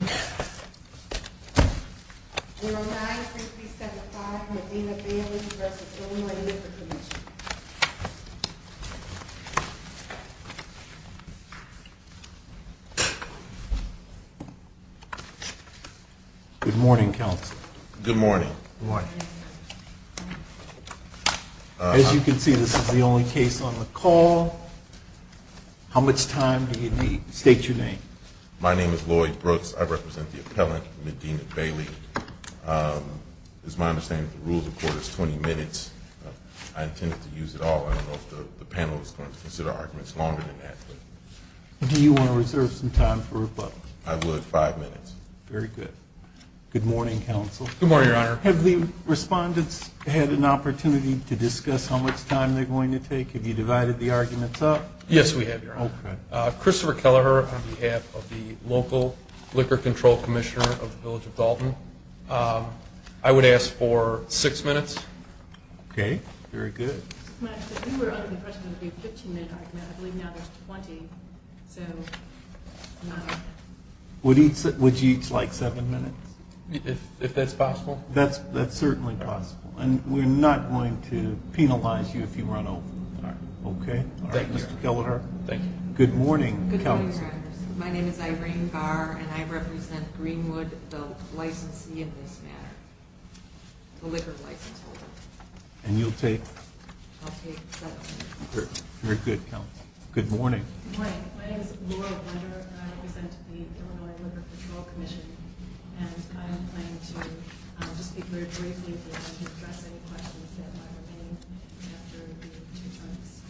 We're on 9-3-3-7-5, Medina Bailey v. Illinois Liquor Commission. Good morning, Counsel. Good morning. As you can see, this is the only case on the call. How much time do you need? State your name. My name is Lloyd Brooks. I represent the appellant, Medina Bailey. It is my understanding that the rules of court is 20 minutes. I intend to use it all. I don't know if the panel is going to consider arguments longer than that. Do you want to reserve some time for rebuttal? I would. Five minutes. Very good. Good morning, Counsel. Good morning, Your Honor. Have the respondents had an opportunity to discuss how much time they're going to take? Have you divided the arguments up? Yes, we have, Your Honor. Christopher Kelleher on behalf of the local Liquor Control Commissioner of the Village of Dalton. I would ask for six minutes. Okay. Very good. You were under the impression there would be a 15-minute argument. I believe now there's 20. Would you each like seven minutes? If that's possible. That's certainly possible. And we're not going to penalize you if you run over. Okay. All right, Mr. Kelleher. Thank you. Good morning, Counsel. Good morning, Your Honor. My name is Irene Garr, and I represent Greenwood, the licensee in this matter, the liquor license holder. And you'll take? I'll take seven minutes. Very good, Counsel. Good morning. Good morning. My name is Laura Blunder, and I represent the Illinois Liquor Control Commission. And I am planning to just be very brief and address any questions that might remain after the two terms.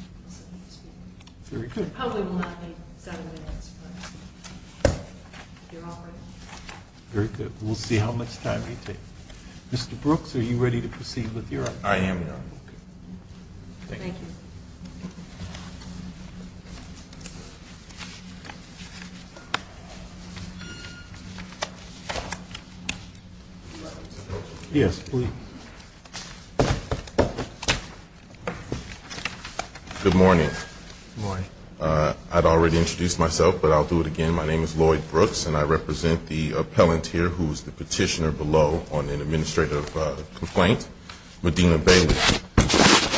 Very good. It probably will not be seven minutes, but if you're all ready. Very good. We'll see how much time you take. Mr. Brooks, are you ready to proceed with your argument? Thank you. Thank you. Yes, please. Good morning. Good morning. I'd already introduced myself, but I'll do it again. My name is Lloyd Brooks, and I represent the appellant here who is the petitioner below on an administrative complaint, Medina Bailey.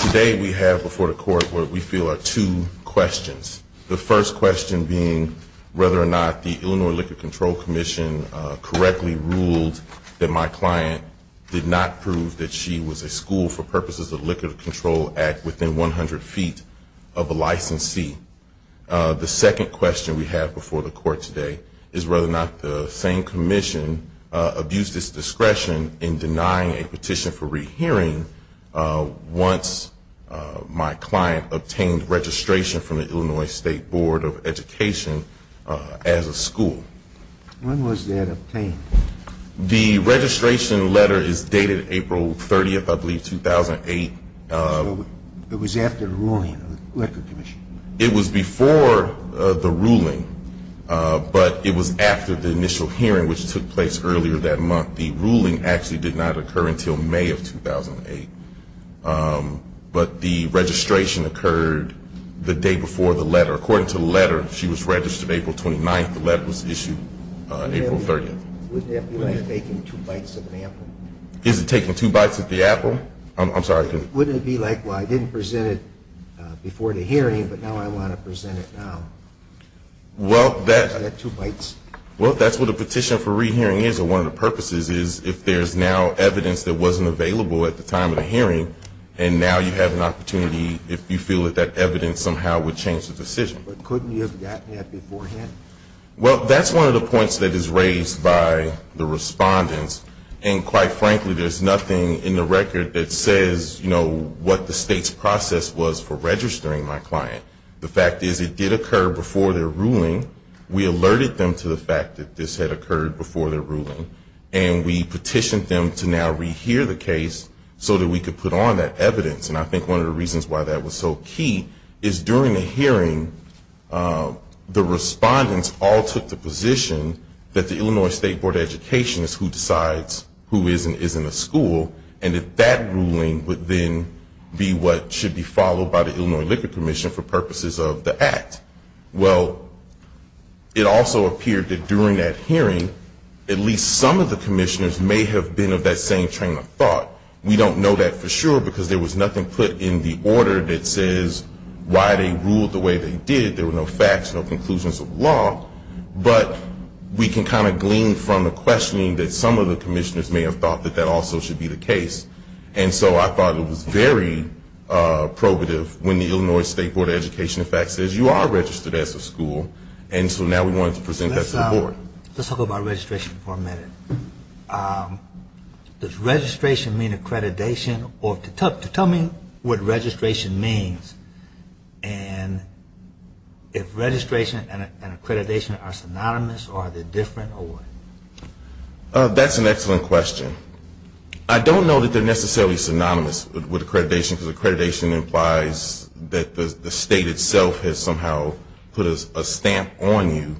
Today we have before the Court what we feel are two questions. The first question being whether or not the Illinois Liquor Control Commission correctly ruled that my client did not prove that she was a school for purposes of the Liquor Control Act within 100 feet of a licensee. The second question we have before the Court today is whether or not the same commission abused its discretion in denying a petition for education as a school. When was that obtained? The registration letter is dated April 30th, I believe, 2008. So it was after the ruling of the Liquor Commission? It was before the ruling, but it was after the initial hearing, which took place earlier that month. The ruling actually did not occur until May of 2008. But the registration occurred the day before the letter. According to the letter, she was registered April 29th. The letter was issued April 30th. Wouldn't that be like taking two bites of an apple? Is it taking two bites of the apple? I'm sorry. Wouldn't it be like, well, I didn't present it before the hearing, but now I want to present it now? Well, that's what a petition for rehearing is. So one of the purposes is if there's now evidence that wasn't available at the time of the hearing, and now you have an opportunity if you feel that that evidence somehow would change the decision. But couldn't you have gotten that beforehand? Well, that's one of the points that is raised by the respondents. And quite frankly, there's nothing in the record that says, you know, what the State's process was for registering my client. The fact is it did occur before their ruling. We alerted them to the fact that this had occurred before their ruling, and we petitioned them to now rehear the case so that we could put on that evidence. And I think one of the reasons why that was so key is during the hearing, the respondents all took the position that the Illinois State Board of Education is who decides who is and isn't a school, and that that ruling would then be what should be followed by the Illinois Liquor Commission for purposes of the act. Well, it also appeared that during that hearing, at least some of the commissioners may have been of that same train of thought. We don't know that for sure because there was nothing put in the order that says why they ruled the way they did. There were no facts, no conclusions of law. But we can kind of glean from the questioning that some of the commissioners may have thought that that also should be the case. And so I thought it was very probative when the Illinois State Board of Education in fact says you are registered as a school, and so now we wanted to present that to the board. Let's talk about registration for a minute. Does registration mean accreditation, or tell me what registration means, and if registration and accreditation are synonymous or are they different or what? That's an excellent question. I don't know that they're necessarily synonymous with accreditation because accreditation implies that the state itself has somehow put a stamp on you.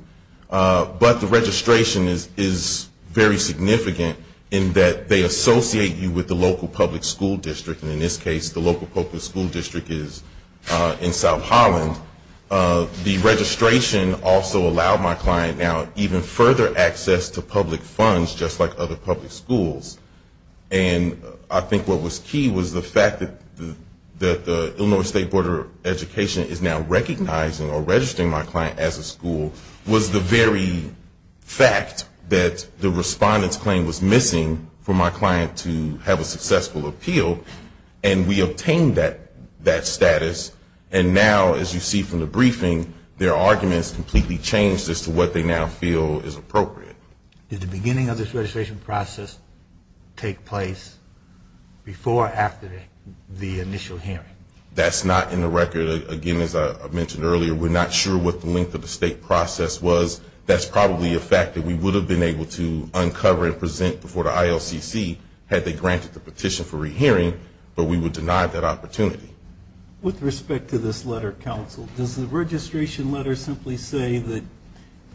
But the registration is very significant in that they associate you with the local public school district, and in this case the local public school district is in South Holland. The registration also allowed my client now even further access to public funds just like other public schools. And I think what was key was the fact that the Illinois State Board of Education is now recognizing or registering my client as a school was the very fact that the respondent's claim was missing for my client to have a successful appeal, and we obtained that status. And now, as you see from the briefing, their arguments completely changed as to what they now feel is appropriate. Did the beginning of this registration process take place before or after the initial hearing? That's not in the record. Again, as I mentioned earlier, we're not sure what the length of the state process was. That's probably a fact that we would have been able to uncover and present before the ILCC had they granted the petition for rehearing, but we would deny that opportunity. With respect to this letter, Counsel, does the registration letter simply say that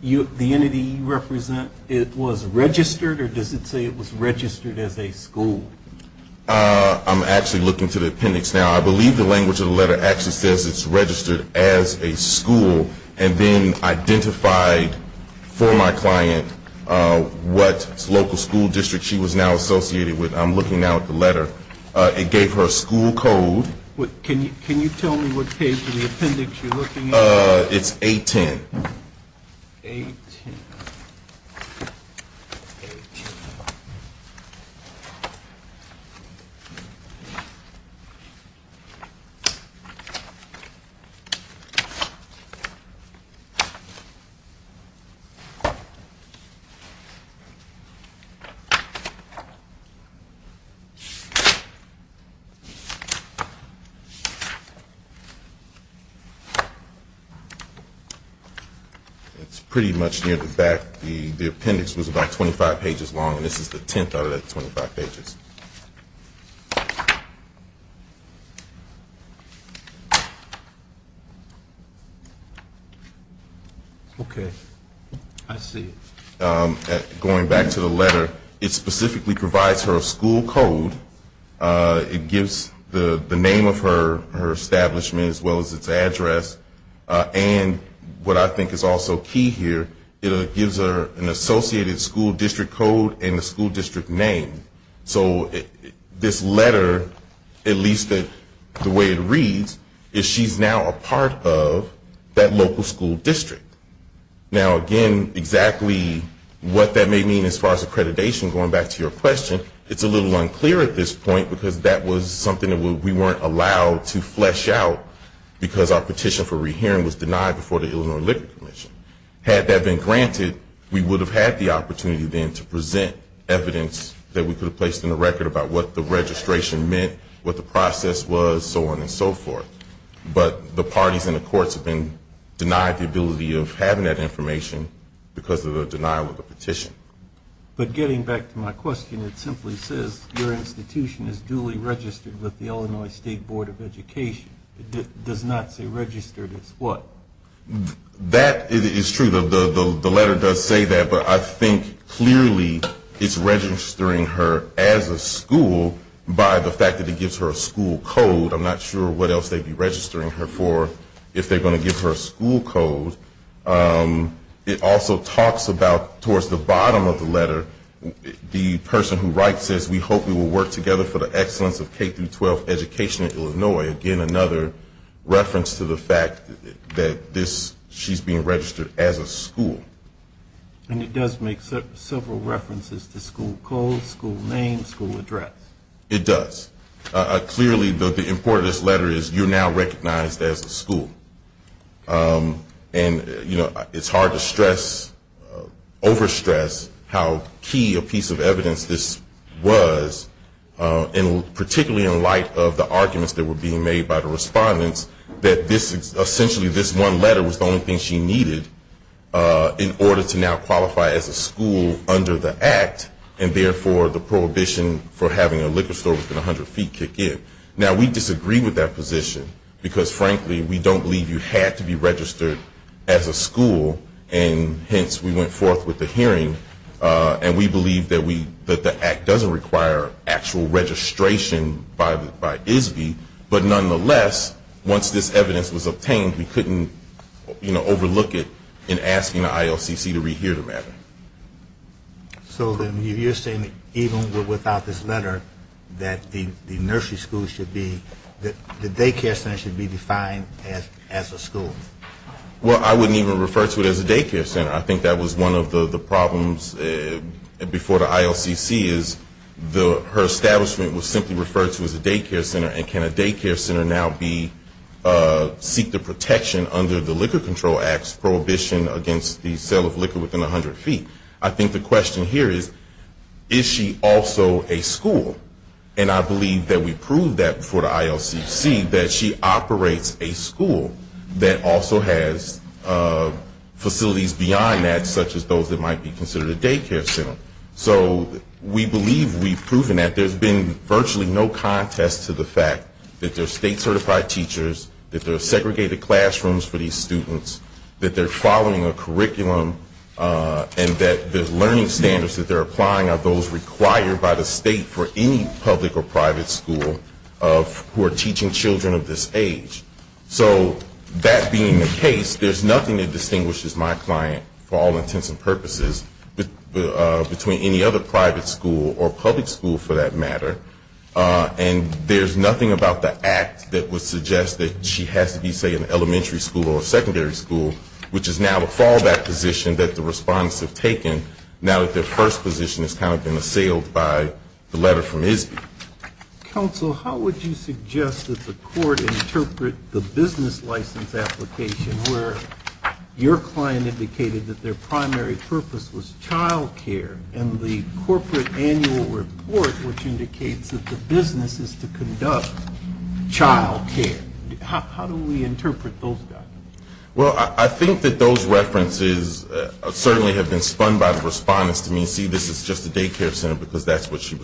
the entity you represent was registered, or does it say it was registered as a school? I'm actually looking to the appendix now. I believe the language of the letter actually says it's registered as a school and then identified for my client what local school district she was now associated with. I'm looking now at the letter. It gave her a school code. Can you tell me what page in the appendix you're looking at? It's 810. It's pretty much near the back. The appendix was about 25 pages long, and this is the tenth out of that 25 pages. Okay. I see. Going back to the letter, it specifically provides her a school code. It gives the name of her establishment as well as its address, and what I think is also key here, it gives her an associated school district code and a school district name. So this letter, at least the way it reads, is she's now a part of that local school district. Now, again, exactly what that may mean as far as accreditation, going back to your question, it's a little unclear at this point because that was something we weren't allowed to flesh out because our petition for rehearing was denied before the Illinois Liquor Commission. Had that been granted, we would have had the opportunity then to present evidence that we could have placed in the record about what the registration meant, what the process was, so on and so forth. But the parties and the courts have been denied the ability of having that information because of the denial of the petition. But getting back to my question, it simply says your institution is duly registered with the Illinois State Board of Education. It does not say registered as what? That is true. The letter does say that, but I think clearly it's registering her as a school by the fact that it gives her a school code. I'm not sure what else they'd be registering her for if they're going to give her a school code. It also talks about, towards the bottom of the letter, the person who writes this, we hope we will work together for the excellence of K-12 education in Illinois. Again, another reference to the fact that she's being registered as a school. And it does make several references to school code, school name, school address. It does. Clearly, the importance of this letter is you're now recognized as a school. And, you know, it's hard to stress, overstress how key a piece of evidence this was, particularly in light of the arguments that were being made by the respondents, that essentially this one letter was the only thing she needed in order to now qualify as a school under the Act, and therefore the prohibition for having a liquor store within 100 feet kick in. Now, we disagree with that position because, frankly, we don't believe you had to be registered as a school, and hence we went forth with the hearing. And we believe that the Act doesn't require actual registration by ISBE. But nonetheless, once this evidence was obtained, we couldn't, you know, overlook it in asking the ILCC to rehear the matter. So then you're saying even without this letter that the nursery school should be, the daycare center should be defined as a school? Well, I wouldn't even refer to it as a daycare center. I think that was one of the problems before the ILCC is her establishment was simply referred to as a daycare center. And can a daycare center now be, seek the protection under the Liquor Control Act's prohibition against the sale of liquor within 100 feet? I think the question here is, is she also a school? And I believe that we proved that before the ILCC, that she operates a school that also has facilities beyond that, such as those that might be considered a daycare center. So we believe we've proven that. There's been virtually no contest to the fact that they're state-certified teachers, that there are segregated classrooms for these students, that they're following a curriculum, and that the learning standards that they're applying are those required by the state for any public or private school who are teaching children of this age. So that being the case, there's nothing that distinguishes my client, for all intents and purposes, between any other private school or public school, for that matter. And there's nothing about the act that would suggest that she has to be, say, an elementary school or a secondary school, which is now a fallback position that the respondents have taken, now that their first position has kind of been assailed by the letter from ISB. Counsel, how would you suggest that the court interpret the business license application, where your client indicated that their primary purpose was childcare, and the corporate annual report, which indicates that the business is to conduct childcare? How do we interpret those documents? Well, I think that those references certainly have been spun by the respondents to me and see this is just a daycare center because that's how she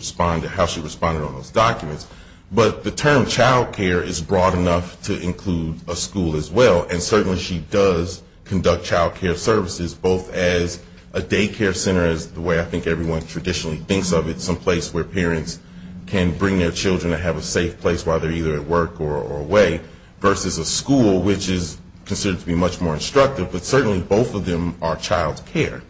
responded on those documents. But the term childcare is broad enough to include a school as well, and certainly she does conduct childcare services, both as a daycare center, as the way I think everyone traditionally thinks of it, someplace where parents can bring their children and have a safe place while they're either at work or away, versus a school, which is considered to be much more instructive, but certainly both of them are childcare.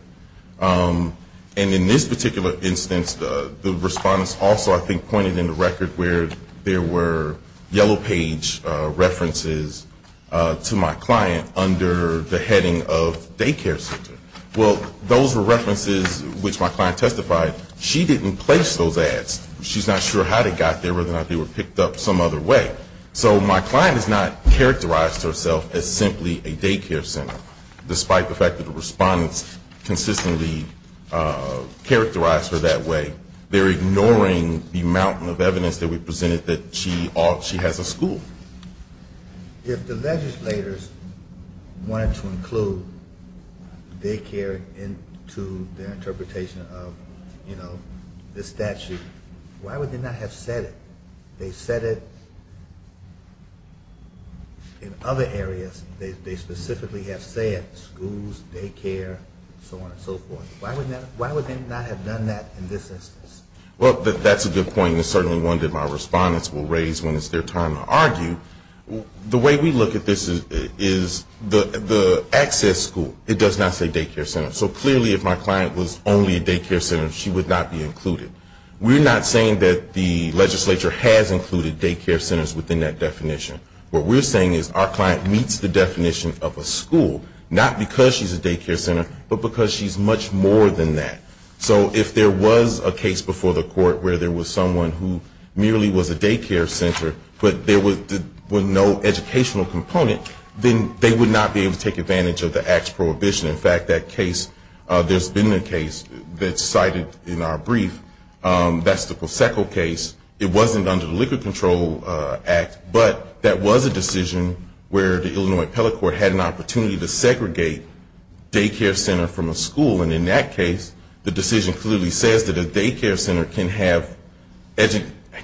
And in this particular instance, the respondents also, I think, indicated in the record where there were yellow page references to my client under the heading of daycare center. Well, those were references which my client testified. She didn't place those ads. She's not sure how they got there or whether or not they were picked up some other way. So my client has not characterized herself as simply a daycare center, despite the fact that the respondents consistently characterized her that way. They're ignoring the mountain of evidence that we presented that she has a school. If the legislators wanted to include daycare into their interpretation of the statute, why would they not have said it? They said it in other areas. They specifically have said schools, daycare, so on and so forth. Why would they not have done that in this instance? Well, that's a good point, and it's certainly one that my respondents will raise when it's their time to argue. The way we look at this is the access school, it does not say daycare center. So clearly if my client was only a daycare center, she would not be included. We're not saying that the legislature has included daycare centers within that definition. What we're saying is our client meets the definition of a school, not because she's a daycare center, but because she's much more than that. So if there was a case before the court where there was someone who merely was a daycare center, but there was no educational component, then they would not be able to take advantage of the act's prohibition. In fact, that case, there's been a case that's cited in our brief. That's the Posecco case. It wasn't under the Liquor Control Act, but that was a decision where the Illinois appellate court had an opportunity to segregate daycare center from a school. And in that case, the decision clearly says that a daycare center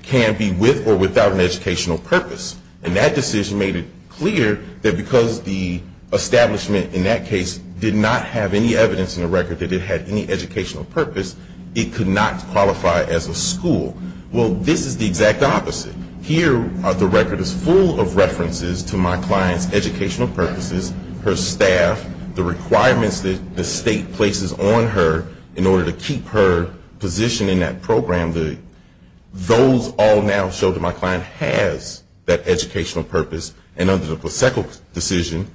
can be with or without an educational purpose. And that decision made it clear that because the establishment in that case did not have any evidence in the record that it had any educational purpose, it could not qualify as a school. Well, this is the exact opposite. Here, the record is full of references to my client's educational purposes, her staff, the requirements that the state places on her in order to keep her positioned in that program. Those all now show that my client has that educational purpose. And under the Posecco decision,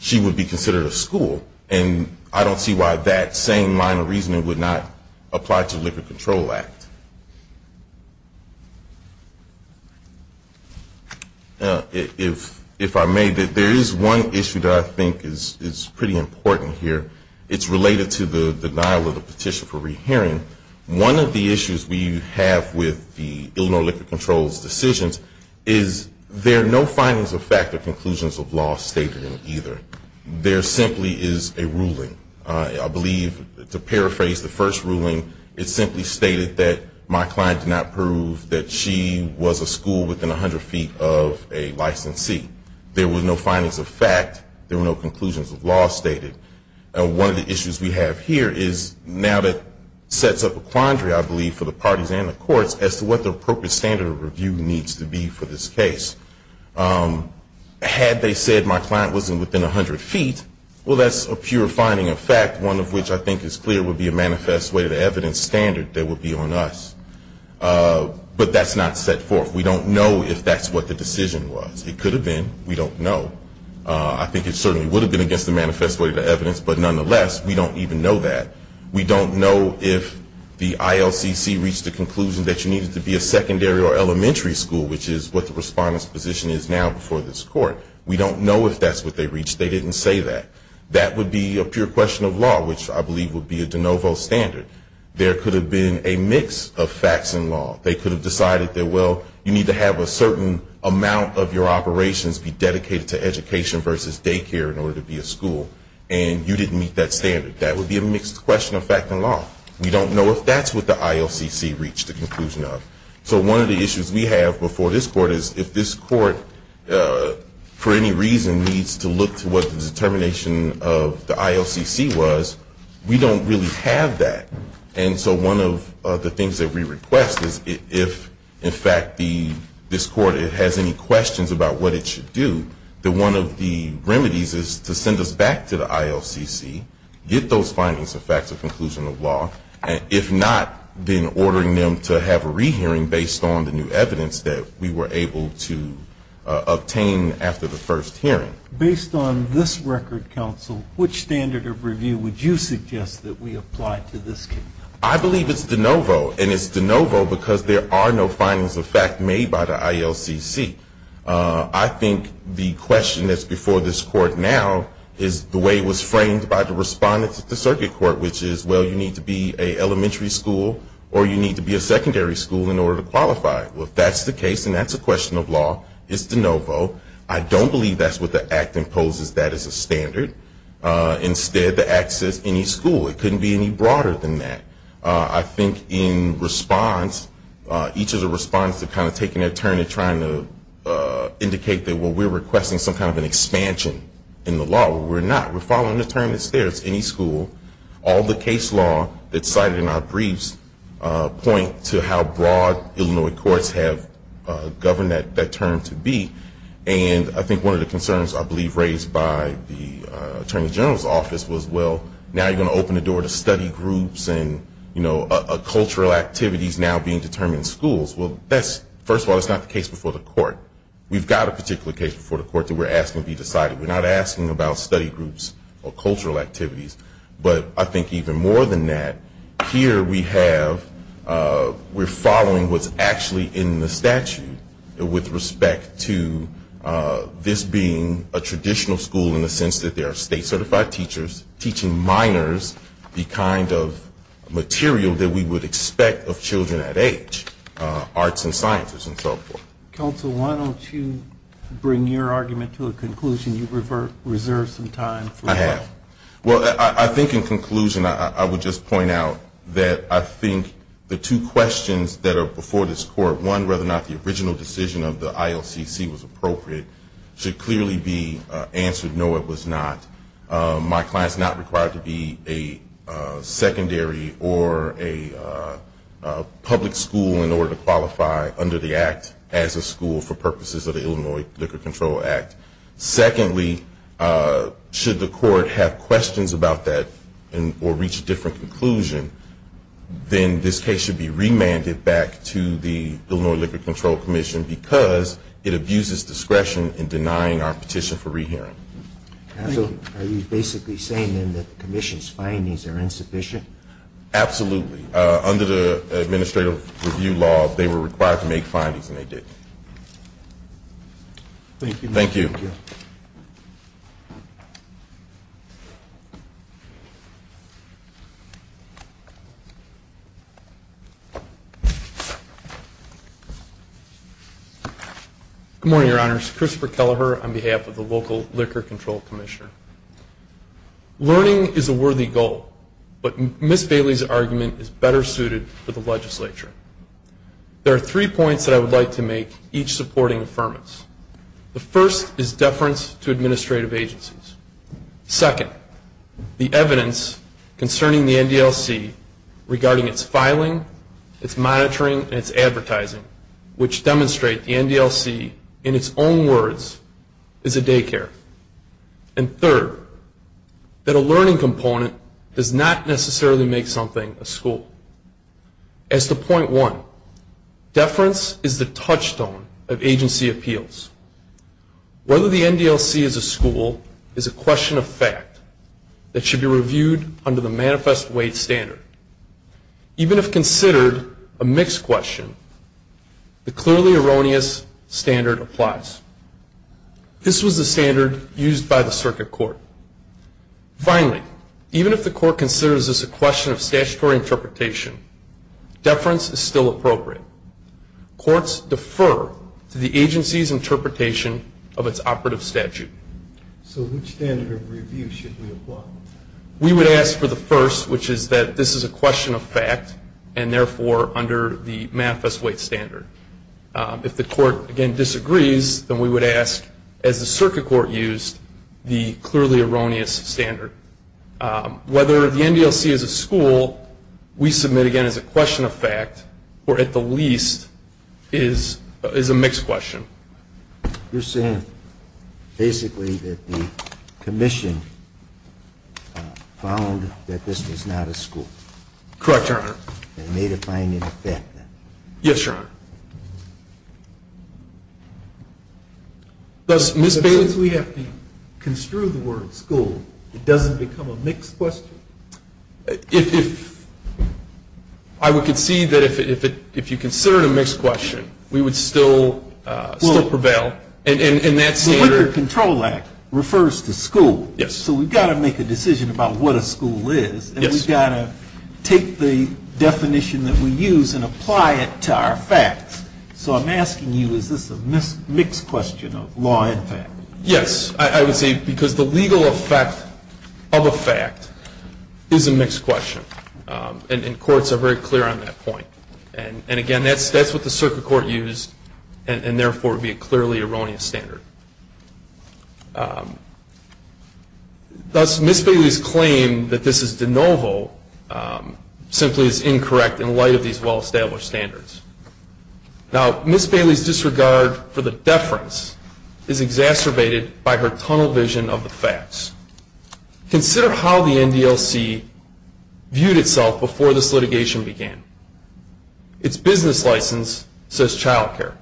she would be considered a school. And I don't see why that same minor reasoning would not apply to the Liquor Control Act. If I may, there is one issue that I think is pretty important here. It's related to the denial of the petition for rehearing. One of the issues we have with the Illinois Liquor Control's decisions is there are no findings of fact or conclusions of law stated in either. There simply is a ruling. I believe, to paraphrase the first ruling, it simply stated that my client did not prove that she was a school within 100 feet of a licensee. There were no findings of fact. There were no conclusions of law stated. One of the issues we have here is now that sets up a quandary, I believe, for the parties and the courts as to what the appropriate standard of review needs to be for this case. Had they said my client was within 100 feet, well, that's a pure finding of fact, one of which I think is clear would be a manifest way of evidence standard that would be on us. But that's not set forth. We don't know if that's what the decision was. It could have been. We don't know. I think it certainly would have been against the manifest way of evidence, but nonetheless, we don't even know that. We don't know if the ILCC reached the conclusion that she needed to be a secondary or elementary school, which is what the respondent's position is now before this Court. We don't know if that's what they reached. They didn't say that. That would be a pure question of law, which I believe would be a de novo standard. There could have been a mix of facts and law. They could have decided that, well, you need to have a certain amount of your operations be dedicated to education versus daycare in order to be a school. And you didn't meet that standard. That would be a mixed question of fact and law. We don't know if that's what the ILCC reached a conclusion of. So one of the issues we have before this Court is if this Court, for any reason, needs to look to what the determination of the ILCC was, we don't really have that. And so one of the things that we request is if, in fact, this Court has any questions about what it should do, that one of the remedies is to send us back to the ILCC, get those findings of facts, a conclusion of law, and if not, then ordering them to have a rehearing based on the new evidence that we were able to obtain after the first hearing. Based on this record, counsel, which standard of review would you suggest that we apply to this case? I believe it's de novo, and it's de novo because there are no findings of fact made by the ILCC. I think the question that's before this Court now is the way it was framed by the respondents at the circuit court, which is, well, you need to be an elementary school or you need to be a secondary school in order to qualify. Well, if that's the case and that's a question of law, it's de novo. I don't believe that's what the Act imposes that as a standard. Instead, the Act says any school. It couldn't be any broader than that. I think in response, each of the respondents have kind of taken a turn in trying to indicate that, well, we're requesting some kind of an expansion in the law. Well, we're not. We're following the term that's there. It's any school. All the case law that's cited in our briefs point to how broad Illinois courts have governed that term to be. And I think one of the concerns I believe raised by the Attorney General's office was, well, now you're going to open the door to study groups and, you know, cultural activities now being determined in schools. Well, first of all, that's not the case before the Court. We've got a particular case before the Court that we're asking to be decided. We're not asking about study groups or cultural activities. But I think even more than that, here we have we're following what's actually in the statute with respect to this being a traditional school in the sense that there are state certified teachers teaching minors the kind of material that we would expect of children at age, arts and sciences and so forth. Counsel, why don't you bring your argument to a conclusion? You've reserved some time for that. I have. Well, I think in conclusion I would just point out that I think the two questions that are before this Court, one, whether or not the original decision of the ILCC was appropriate, should clearly be answered no, it was not. My client is not required to be a secondary or a public school in order to qualify under the Act as a school for purposes of the Illinois Liquor Control Act. Secondly, should the Court have questions about that or reach a different conclusion, then this case should be remanded back to the Illinois Liquor Control Commission because it abuses discretion in denying our petition for rehearing. Are you basically saying then that the Commission's findings are insufficient? Absolutely. Under the Administrative Review Law, they were required to make findings and they didn't. Thank you. Thank you. Good morning, Your Honors. Christopher Kelleher on behalf of the local Liquor Control Commission. Learning is a worthy goal, but Ms. Bailey's argument is better suited for the legislature. There are three points that I would like to make, each supporting affirmance. The first is deference to administrative agencies. Second, the evidence concerning the NDLC regarding its filing, its monitoring, and its advertising, which demonstrate the NDLC in its own words is a daycare. And third, that a learning component does not necessarily make something a school. As to point one, deference is the touchstone of agency appeals. Whether the NDLC is a school is a question of fact that should be reviewed under the manifest weight standard. Even if considered a mixed question, the clearly erroneous standard applies. This was the standard used by the circuit court. Finally, even if the court considers this a question of statutory interpretation, deference is still appropriate. Courts defer to the agency's interpretation of its operative statute. So which standard of review should we apply? We would ask for the first, which is that this is a question of fact, and therefore under the manifest weight standard. If the court, again, disagrees, then we would ask, as the circuit court used, the clearly erroneous standard. Whether the NDLC is a school, we submit again as a question of fact, or at the least is a mixed question. You're saying basically that the commission found that this was not a school? Correct, Your Honor. Yes, Your Honor. Since we have to construe the word school, it doesn't become a mixed question? I would concede that if you consider it a mixed question, we would still prevail. The Wicker Control Act refers to school, so we've got to make a decision about what a school is, and we've got to take the definition that we use and apply it to our facts. So I'm asking you, is this a mixed question of law and fact? Yes, I would say because the legal effect of a fact is a mixed question, and courts are very clear on that point. And again, that's what the circuit court used, and therefore it would be a clearly erroneous standard. Thus, Ms. Bailey's claim that this is de novo simply is incorrect in light of these well-established standards. Now, Ms. Bailey's disregard for the deference is exacerbated by her tunnel vision of the facts. Consider how the NDLC viewed itself before this litigation began. Its business license says childcare.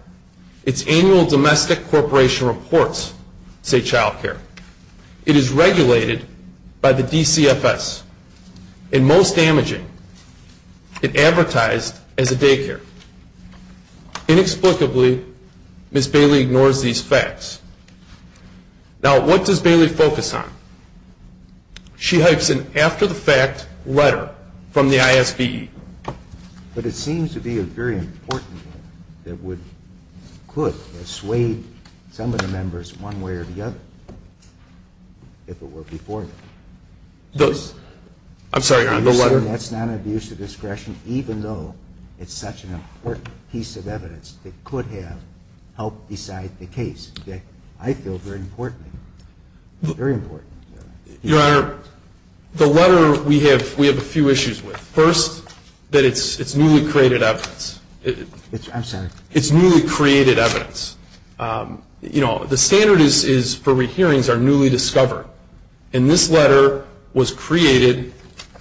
Its annual domestic corporation reports say childcare. It is regulated by the DCFS, and most damaging, it advertised as a daycare. Inexplicably, Ms. Bailey ignores these facts. Now, what does Bailey focus on? She hypes an after-the-fact letter from the ISB. But it seems to be a very important letter that would, could persuade some of the members one way or the other, if it were before that. I'm sorry, Your Honor, the letter? That's non-abusive discretion, even though it's such an important piece of evidence that could have helped decide the case. I feel very important, very important. Your Honor, the letter we have a few issues with. First, that it's newly created evidence. I'm sorry. It's newly created evidence. You know, the standard is for hearings are newly discovered. And this letter was created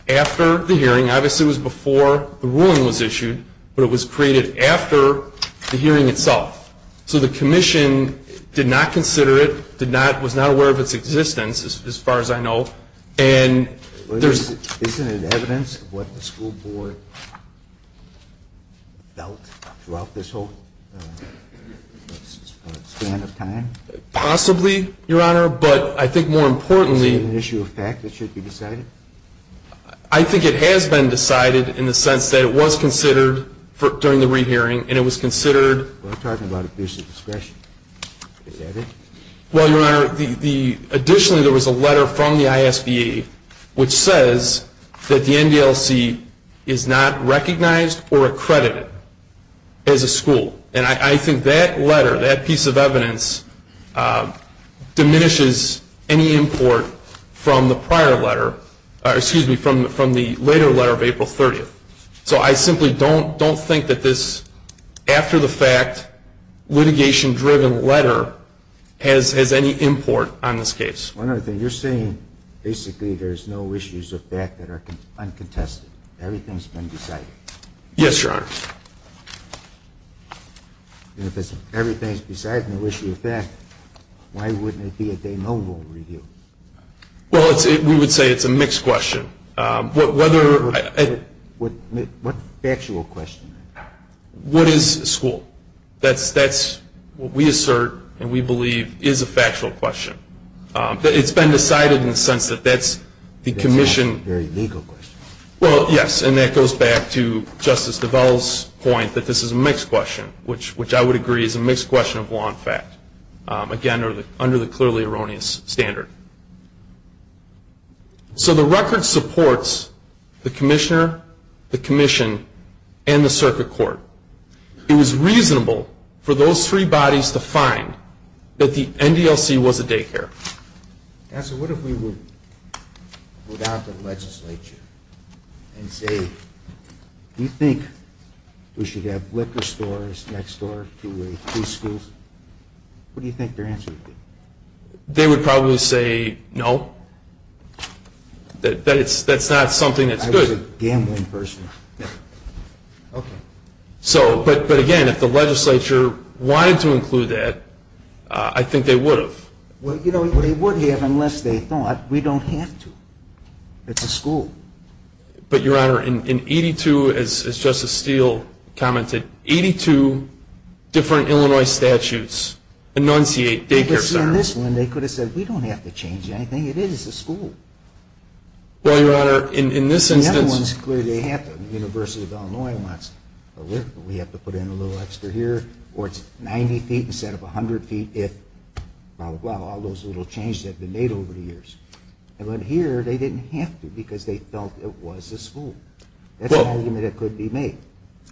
after the hearing. Obviously, it was before the ruling was issued, but it was created after the hearing itself. So the commission did not consider it, did not, was not aware of its existence, as far as I know. And there's... I don't know what the school board felt throughout this whole span of time. Possibly, Your Honor, but I think more importantly... Is it an issue of fact that should be decided? I think it has been decided in the sense that it was considered during the rehearing, and it was considered... Well, I'm talking about abusive discretion. Well, Your Honor, additionally, there was a letter from the ISBA, which says that the NDLC is not recognized or accredited as a school. And I think that letter, that piece of evidence, diminishes any import from the prior letter... Excuse me, from the later letter of April 30th. So I simply don't think that this after-the-fact, litigation-driven letter has any import on this case. One other thing, you're saying basically there's no issues of fact that are uncontested. Yes, Your Honor. If everything's decided on the issue of fact, why wouldn't it be a de novo review? Well, we would say it's a mixed question. What factual question? What is a school? That's what we assert and we believe is a factual question. It's been decided in the sense that that's the commission... Well, yes, and that goes back to Justice Duvall's point that this is a mixed question, which I would agree is a mixed question of law and fact, again, under the clearly erroneous standard. So the record supports the commissioner, the commission, and the circuit court. It was reasonable for those three bodies to find that the NDLC was a daycare. Counsel, what if we would go down to the legislature and say, do you think we should have liquor stores next door to these schools? What do you think their answer would be? They would probably say, no, that's not something that's good. That's a gambling person. But again, if the legislature wanted to include that, I think they would have. Well, they would have unless they thought we don't have to. It's a school. But, Your Honor, in 82, as Justice Steele commented, 82 different Illinois statutes enunciate daycare centers. In this one, they could have said, we don't have to change anything. It is a school. Well, Your Honor, in this instance... The other ones, clearly they have to. The University of Illinois wants liquor, but we have to put in a little extra here. Or it's 90 feet instead of 100 feet if, well, all those little changes have been made over the years. But here they didn't have to because they felt it was a school. That's an argument that could be made.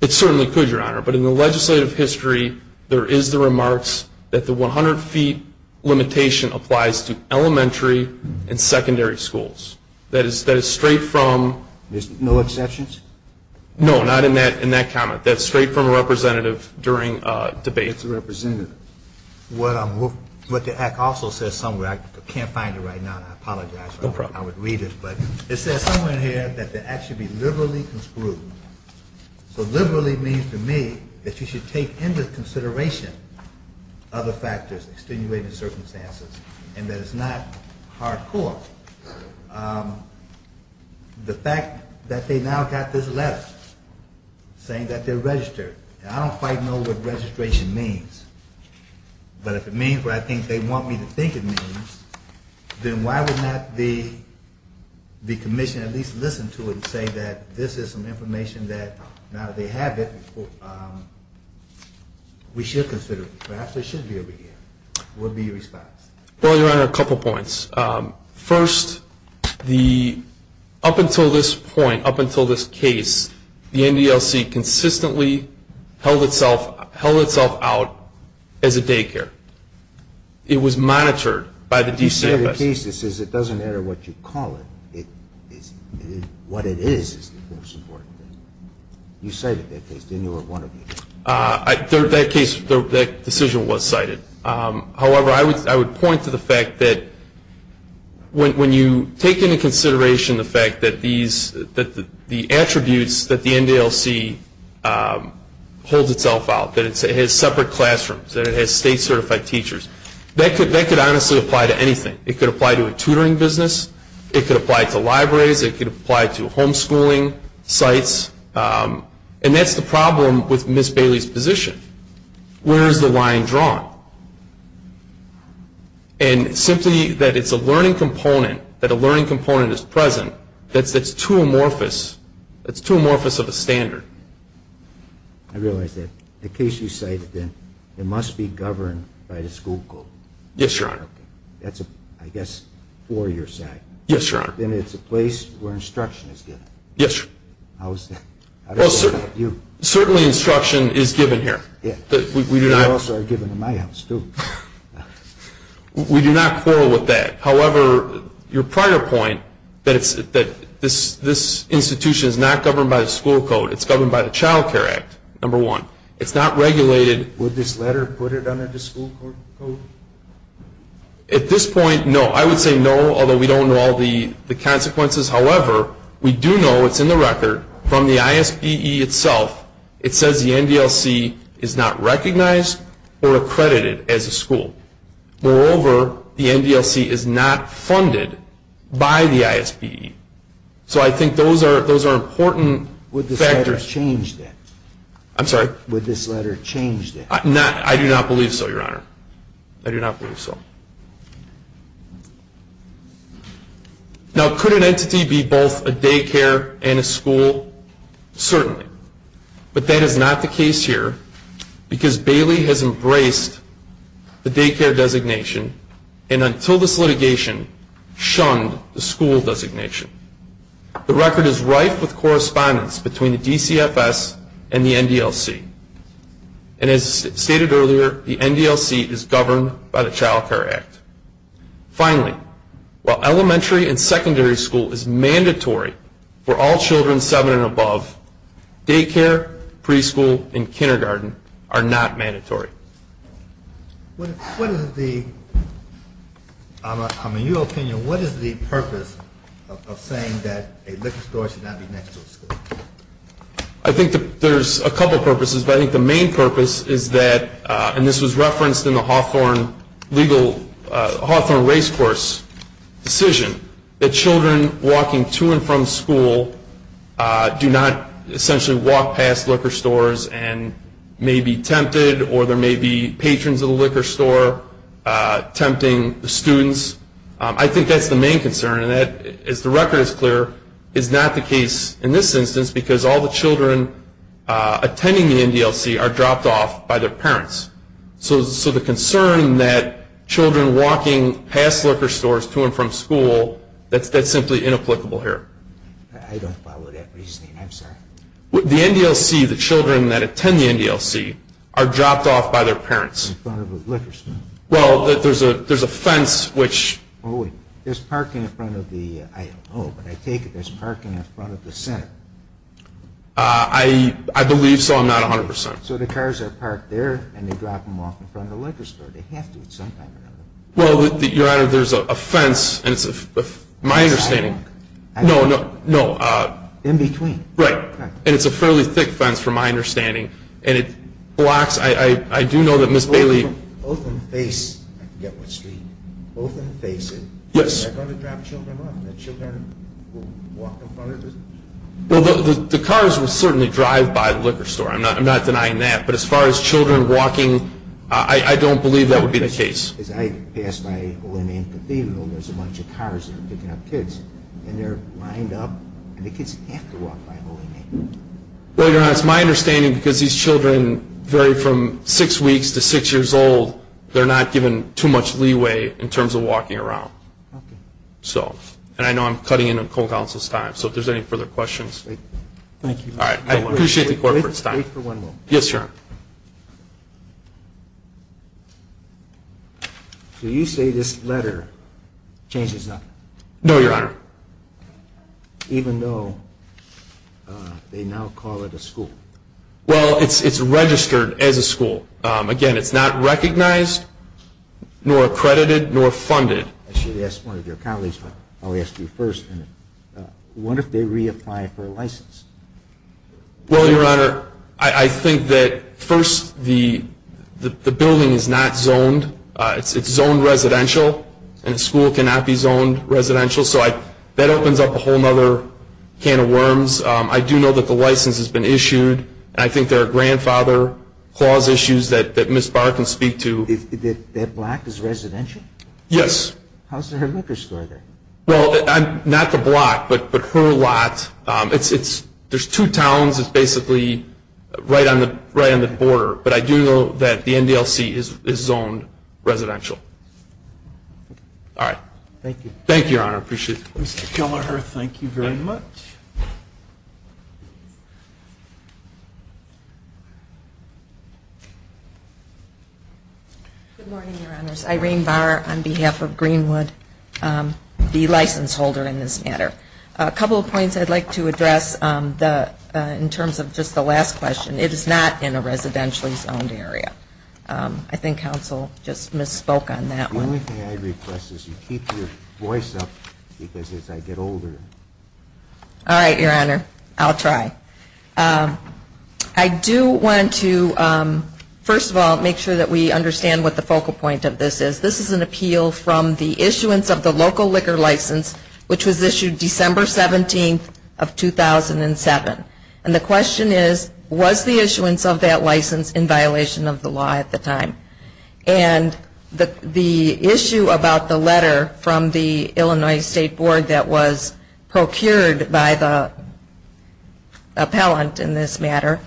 It certainly could, Your Honor. But in the legislative history, there is the remarks that the 100 feet limitation applies to elementary and secondary schools. That is straight from... There's no exceptions? No, not in that comment. That's straight from a representative during debate. What the act also says somewhere, I can't find it right now. I apologize. It says somewhere in here that the act should be liberally construed. So liberally means to me that you should take into consideration other factors, extenuating circumstances, and that it's not hardcore. The fact that they now got this letter saying that they're registered. I don't quite know what registration means, but if it means what I think they want me to think it means, then why would not the commission at least listen to it and say that this is some information that now that they have it, we should consider it. Perhaps it should be over here. What would be your response? Well, Your Honor, a couple points. First, up until this point, up until this case, the NDLC consistently held itself out as a daycare. It was monitored by the DCFS. But you said the case, it doesn't matter what you call it, what it is, is the most important thing. You cited that case, didn't you, or one of you? That decision was cited. However, I would point to the fact that when you take into consideration the fact that the attributes that the NDLC holds itself out, that it has separate classrooms, that it has state-certified teachers, that could honestly apply to anything. It could apply to a tutoring business. It could apply to libraries. It could apply to homeschooling sites. And that's the problem with Ms. Bailey's position. Where is the line drawn? And simply that it's a learning component, that a learning component is present, that's too amorphous, that's too amorphous of a standard. I realize that the case you cited, then, it must be governed by the school code. Yes, Your Honor. That's, I guess, for your side. Yes, Your Honor. Then it's a place where instruction is given. Yes, Your Honor. How is that? Well, certainly instruction is given here. They also are given in my house, too. We do not quarrel with that. However, your prior point that this institution is not governed by the school code, it's governed by the Child Care Act, number one. It's not regulated. Would this letter put it under the school code? At this point, no. I would say no, although we don't know all the consequences. However, we do know, it's in the record, from the ISPE itself, it says the NDLC is not recognized or accredited as a school. Moreover, the NDLC is not funded by the ISPE. So I think those are important factors. Would this letter change that? I'm sorry? Would this letter change that? I do not believe so, Your Honor. I do not believe so. Now, could an entity be both a daycare and a school? Certainly. But that is not the case here because Bailey has embraced the daycare designation and until this litigation shunned the school designation. The record is rife with correspondence between the DCFS and the NDLC. And as stated earlier, the NDLC is governed by the Child Care Act. Finally, while elementary and secondary school is mandatory for all children seven and above, daycare, preschool, and kindergarten are not mandatory. In your opinion, what is the purpose of saying that a liquor store should not be next to a school? I think there's a couple purposes. But I think the main purpose is that, and this was referenced in the Hawthorne race course decision, that children walking to and from school do not essentially walk past liquor stores and may be tempted or there may be patrons of the liquor store tempting the students. I think that's the main concern. And that, as the record is clear, is not the case in this instance because all the children attending the NDLC are dropped off by their parents. So the concern that children walking past liquor stores to and from school, that's simply inapplicable here. I don't follow that reasoning. I'm sorry. The NDLC, the children that attend the NDLC, are dropped off by their parents. In front of a liquor store. Well, there's a fence which... There's parking in front of the, I don't know, but I take it there's parking in front of the center. I believe so. I'm not 100%. So the cars are parked there and they drop them off in front of the liquor store. They have to at some time or another. Well, Your Honor, there's a fence, and it's, my understanding... No, no, no. In between. Right. And it's a fairly thick fence from my understanding. And it blocks, I do know that Ms. Bailey... Both of them face, I forget what street, both of them face it. Yes. And they're going to drop children off. And the children will walk in front of it. Well, the cars will certainly drive by the liquor store. I'm not denying that. But as far as children walking, I don't believe that would be the case. As I pass by O&M Cathedral, there's a bunch of cars picking up kids. And they're lined up, and the kids have to walk by O&M. Well, Your Honor, it's my understanding, because these children vary from six weeks to six years old, they're not given too much leeway in terms of walking around. So, and I know I'm cutting into cold counsel's time, so if there's any further questions... Thank you. All right, I appreciate the court for its time. Wait for one moment. Yes, Your Honor. So you say this letter changes nothing? No, Your Honor. Even though they now call it a school? Well, it's registered as a school. Again, it's not recognized, nor accredited, nor funded. I should have asked one of your colleagues, but I'll ask you first. What if they reapply for a license? Well, Your Honor, I think that, first, the building is not zoned. It's zoned residential, and a school cannot be zoned residential. So that opens up a whole other can of worms. I do know that the license has been issued, and I think there are grandfather clause issues that Ms. Barr can speak to. That block is residential? Yes. How's her liquor store there? Well, not the block, but her lot. There's two towns. It's basically right on the border. But I do know that the NDLC is zoned residential. All right. Thank you. Thank you, Your Honor. I appreciate it. Mr. Killeher, thank you very much. Good morning, Your Honors. Irene Barr on behalf of Greenwood, the license holder in this matter. A couple of points I'd like to address in terms of just the last question. It is not in a residentially zoned area. I think counsel just misspoke on that one. The only thing I'd request is you keep your voice up because as I get older. All right, Your Honor. I'll try. I do want to, first of all, make sure that we understand what the focal point of this is. This is an appeal from the issuance of the local liquor license, which was issued December 17th of 2007. And the question is, was the issuance of that license in violation of the law at the time? And the issue about the letter from the Illinois State Board that was procured by the appellant in this matter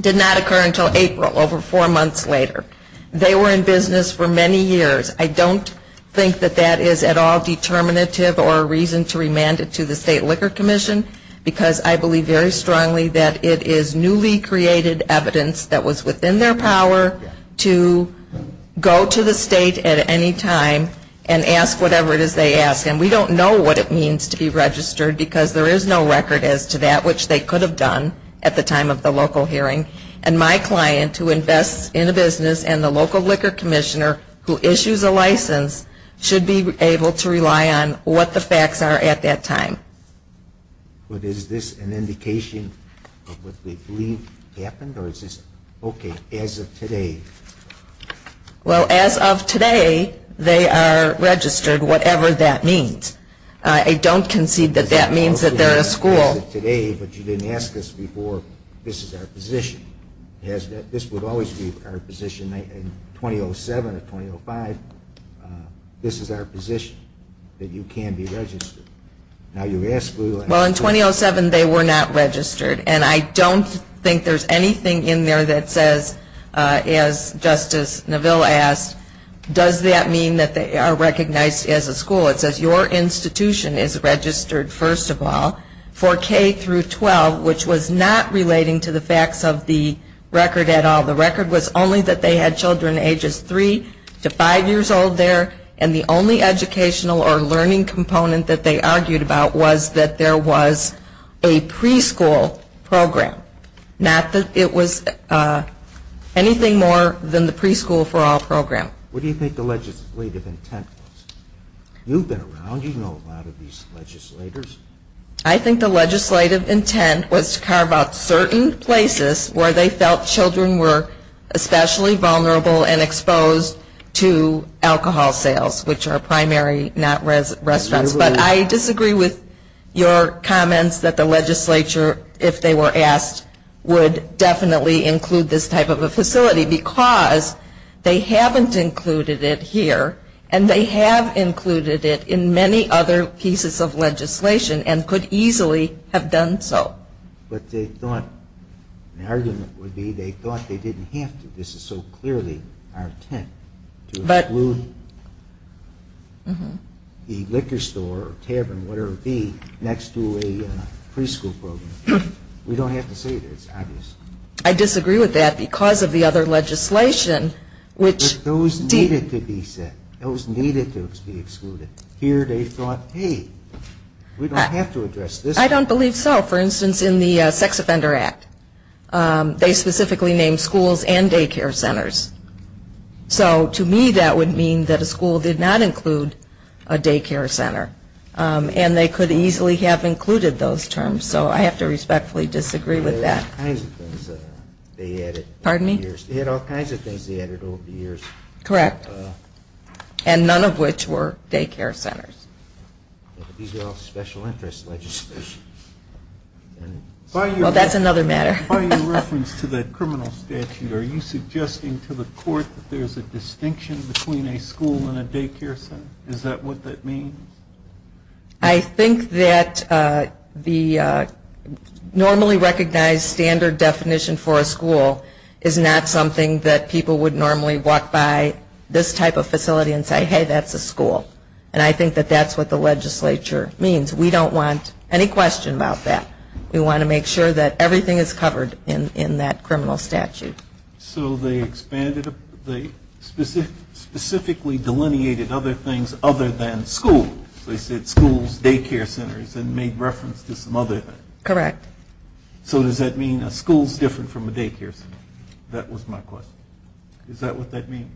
did not occur until April, over four months later. They were in business for many years. I don't think that that is at all determinative or a reason to remand it to the State Liquor Commission because I believe very strongly that it is newly created evidence that was within their power to go to the State at any time and ask whatever it is they ask. And we don't know what it means to be registered because there is no record as to that, which they could have done at the time of the local hearing. And my client, who invests in a business and the local liquor commissioner who issues a license, should be able to rely on what the facts are at that time. But is this an indication of what we believe happened? Or is this okay as of today? Well, as of today, they are registered, whatever that means. I don't concede that that means that they're a school. As of today, but you didn't ask this before, this is our position. This would always be our position in 2007 or 2005. This is our position, that you can be registered. Well, in 2007, they were not registered. And I don't think there's anything in there that says, as Justice Neville asked, does that mean that they are recognized as a school? It says your institution is registered, first of all, for K through 12, which was not relating to the facts of the record at all. The record was only that they had children ages 3 to 5 years old there, and the only educational or learning component that they argued about was that there was a preschool program, not that it was anything more than the Preschool for All program. What do you think the legislative intent was? You've been around. You know a lot of these legislators. I think the legislative intent was to carve out certain places where they felt children were especially vulnerable and exposed to alcohol sales, which are primary, not restaurants. But I disagree with your comments that the legislature, if they were asked, would definitely include this type of a facility because they haven't included it here, and they have included it in many other pieces of legislation and could easily have done so. Well, what they thought the argument would be, they thought they didn't have to. This is so clearly our intent, to exclude the liquor store or tavern, whatever it be, next to a preschool program. We don't have to say that. It's obvious. I disagree with that because of the other legislation. But those needed to be said. Those needed to be excluded. Here they thought, hey, we don't have to address this. I don't believe so. For instance, in the Sex Offender Act, they specifically named schools and daycare centers. So to me that would mean that a school did not include a daycare center, and they could easily have included those terms. So I have to respectfully disagree with that. They had all kinds of things they added over the years. Correct. And none of which were daycare centers. These are all special interest legislation. Well, that's another matter. By your reference to the criminal statute, are you suggesting to the court that there's a distinction between a school and a daycare center? Is that what that means? I think that the normally recognized standard definition for a school is not something that people would normally walk by this type of facility and say, hey, that's a school. And I think that that's what the legislature means. We don't want any question about that. We want to make sure that everything is covered in that criminal statute. So they specifically delineated other things other than school. They said schools, daycare centers, and made reference to some other. Correct. So does that mean a school is different from a daycare center? That was my question. Is that what that means?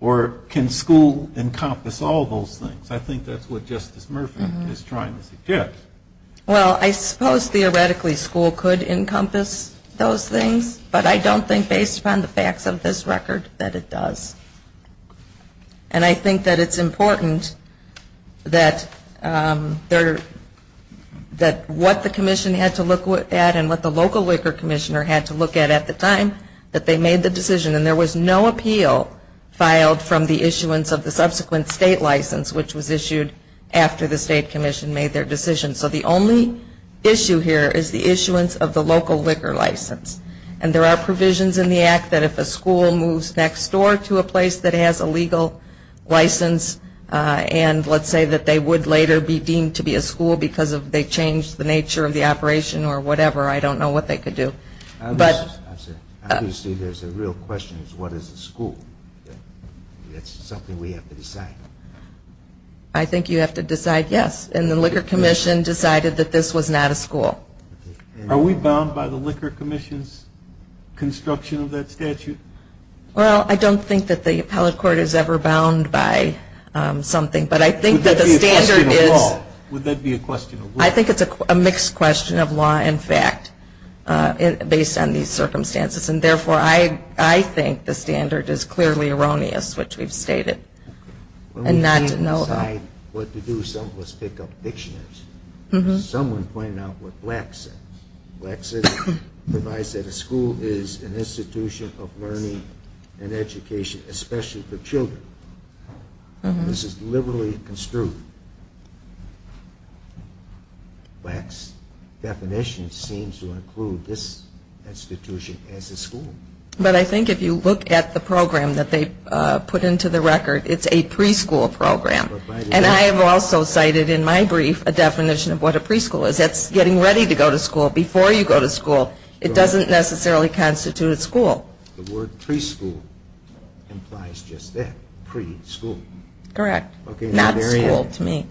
Or can school encompass all those things? I think that's what Justice Murphy is trying to suggest. Well, I suppose theoretically school could encompass those things, but I don't think based upon the facts of this record that it does. And I think that it's important that what the commission had to look at and what the local WICR commissioner had to look at at the time that they made the decision. And there was no appeal filed from the issuance of the subsequent state license, which was issued after the state commission made their decision. So the only issue here is the issuance of the local WICR license. And there are provisions in the act that if a school moves next door to a place that has a legal license and let's say that they would later be deemed to be a school because they changed the nature of the operation or whatever, I don't know what they could do. Obviously there's a real question of what is a school. That's something we have to decide. I think you have to decide yes. And the WICR commission decided that this was not a school. Are we bound by the WICR commission's construction of that statute? Well, I don't think that the appellate court is ever bound by something, but I think that the standard is. Would that be a question of law? In fact, based on these circumstances. And, therefore, I think the standard is clearly erroneous, which we've stated. And not to know of. When we decide what to do, some of us pick up dictionaries. Someone pointed out what Black said. Black said a school is an institution of learning and education, especially for children. This is liberally construed. Black's definition seems to include this institution as a school. But I think if you look at the program that they put into the record, it's a preschool program. And I have also cited in my brief a definition of what a preschool is. That's getting ready to go to school before you go to school. It doesn't necessarily constitute a school. The word preschool implies just that, pre-school. Correct. Not school to me.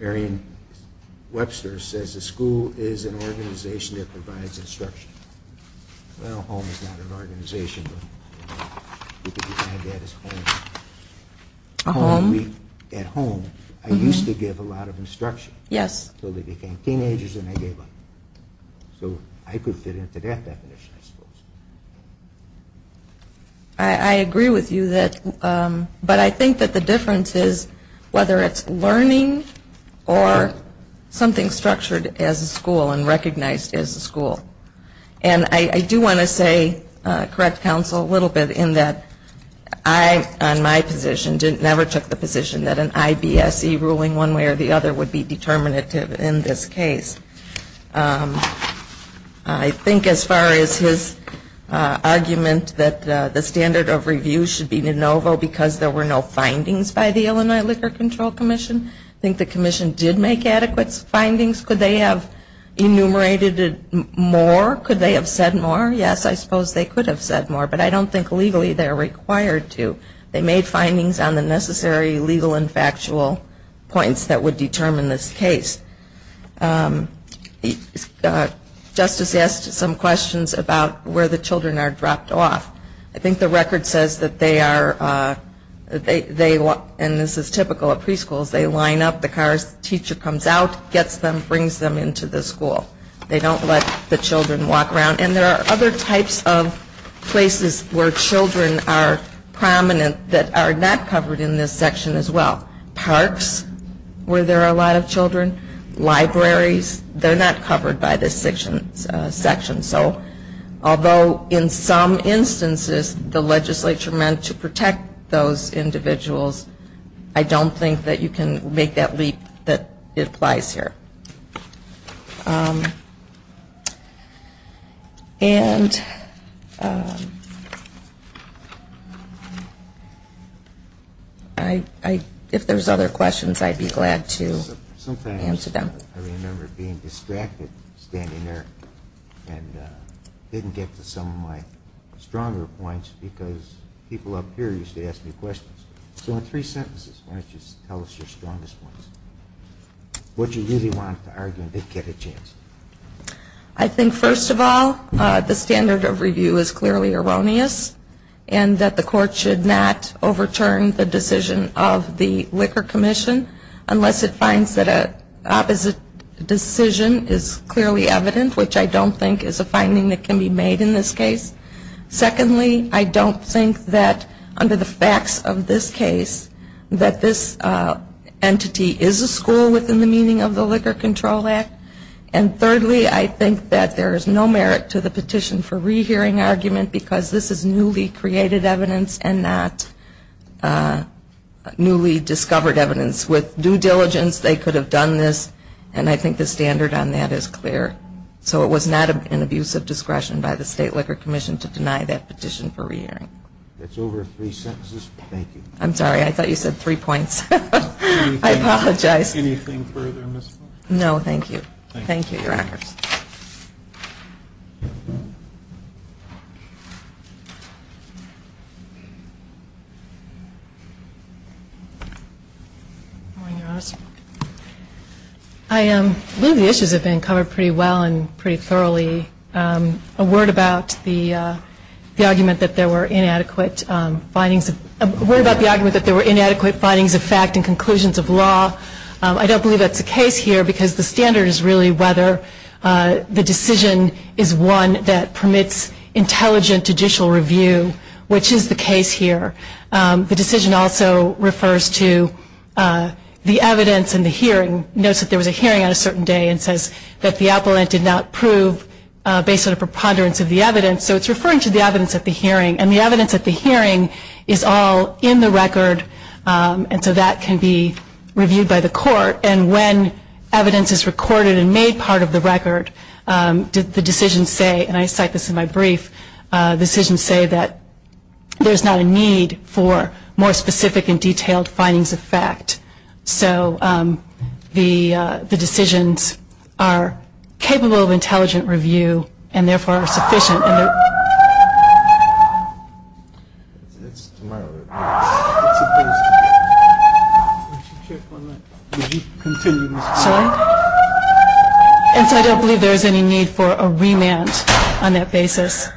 Arian Webster says a school is an organization that provides instruction. Well, a home is not an organization, but you could define that as home. A home? At home, I used to give a lot of instruction. Yes. Until they became teenagers and I gave up. So I could fit into that definition, I suppose. I agree with you. But I think that the difference is whether it's learning or something structured as a school and recognized as a school. And I do want to say, correct counsel, a little bit in that I, on my position, never took the position that an IBSC ruling one way or the other would be determinative in this case. I think as far as his argument that the standard of review should be de novo because there were no findings by the Illinois Liquor Control Commission. I think the commission did make adequate findings. Could they have enumerated it more? Could they have said more? Yes, I suppose they could have said more, but I don't think legally they're required to. They made findings on the necessary legal and factual points that would determine this case. Justice asked some questions about where the children are dropped off. I think the record says that they are, and this is typical at preschools, they line up, the car's teacher comes out, gets them, brings them into the school. They don't let the children walk around. And there are other types of places where children are prominent that are not covered in this section as well. Parks where there are a lot of children. Libraries, they're not covered by this section. So although in some instances the legislature meant to protect those individuals, I don't think that you can make that leap that it applies here. And if there's other questions, I'd be glad to answer them. Sometimes I remember being distracted standing there and didn't get to some of my stronger points because people up here used to ask me questions. So in three sentences, why don't you tell us your strongest points? What you really want to argue and get a chance. I think first of all, the standard of review is clearly erroneous and that the court should not overturn the decision of the Liquor Commission unless it finds that an opposite decision is clearly evident, which I don't think is a finding that can be made in this case. Secondly, I don't think that under the facts of this case that this entity is a school within the meaning of the Liquor Control Act. And thirdly, I think that there is no merit to the petition for rehearing argument because this is newly created evidence and not newly discovered evidence. With due diligence, they could have done this, and I think the standard on that is clear. So it was not an abuse of discretion by the State Liquor Commission to deny that petition for rehearing. That's over three sentences. Thank you. I'm sorry, I thought you said three points. I apologize. Anything further, Ms. Fulton? No, thank you. Thank you, Your Honors. I believe the issues have been covered pretty well and pretty thoroughly. A word about the argument that there were inadequate findings. A word about the argument that there were inadequate findings of fact and conclusions of law. I don't believe that's the case here because the standard is really whether the decision is one that permits intelligent judicial review, which is the case here. The decision also refers to the evidence and the hearing. It notes that there was a hearing on a certain day and says that the appellant did not prove based on a preponderance of the evidence. So it's referring to the evidence at the hearing. And the evidence at the hearing is all in the record, and so that can be reviewed by the court. And when evidence is recorded and made part of the record, the decisions say, and I cite this in my brief, decisions say that there's not a need for more specific and detailed findings of fact. So the decisions are capable of intelligent review and therefore are sufficient. And so I don't believe there's any need for a remand on that basis.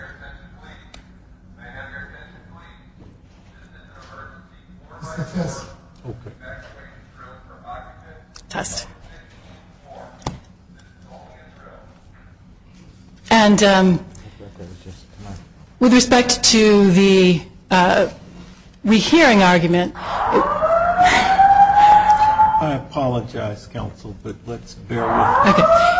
And with respect to the rehearing argument. I apologize, counsel, but let's bear with it. Okay.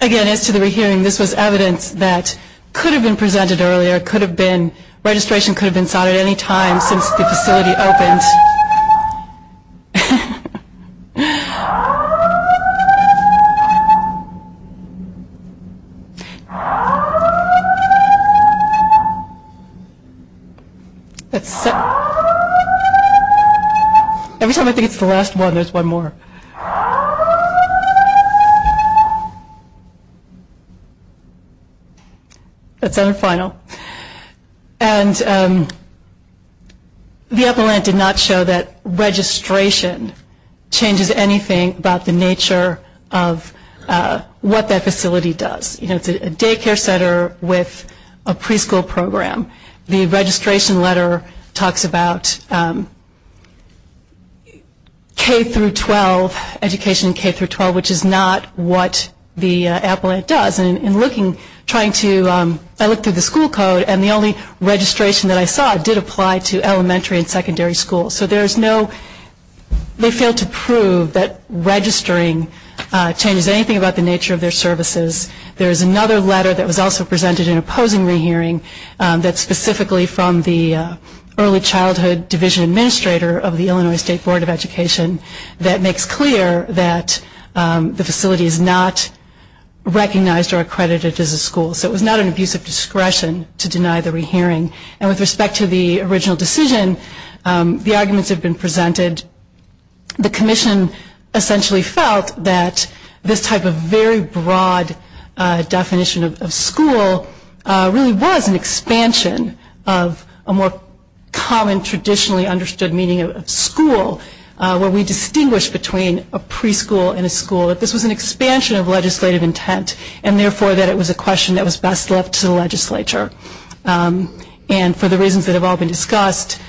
Again, as to the rehearing, this was evidence that could have been presented earlier, it could have been, registration could have been signed at any time since the facility opened. Every time I think it's the last one, there's one more. That's our final. And the appellant did not show that registration changes anything about the nature of what that facility does. You know, it's a daycare center with a preschool program. The registration letter talks about K through 12, education K through 12, which is not what the appellant does. And in looking, trying to, I looked at the school code and the only registration that I saw did apply to elementary and secondary schools. So there's no, they failed to prove that registering changes anything about the nature of their services. There is another letter that was also presented in opposing rehearing that's specifically from the early childhood division administrator of the Illinois State Board of Education that makes clear that the facility is not recognized or accredited as a school. So it was not an abuse of discretion to deny the rehearing. And with respect to the original decision, the arguments have been presented. The commission essentially felt that this type of very broad definition of school really was an expansion of a more common traditionally understood meaning of school where we distinguish between a preschool and a school. This was an expansion of legislative intent and therefore that it was a question that was best left to the legislature. And for the reasons that have all been discussed,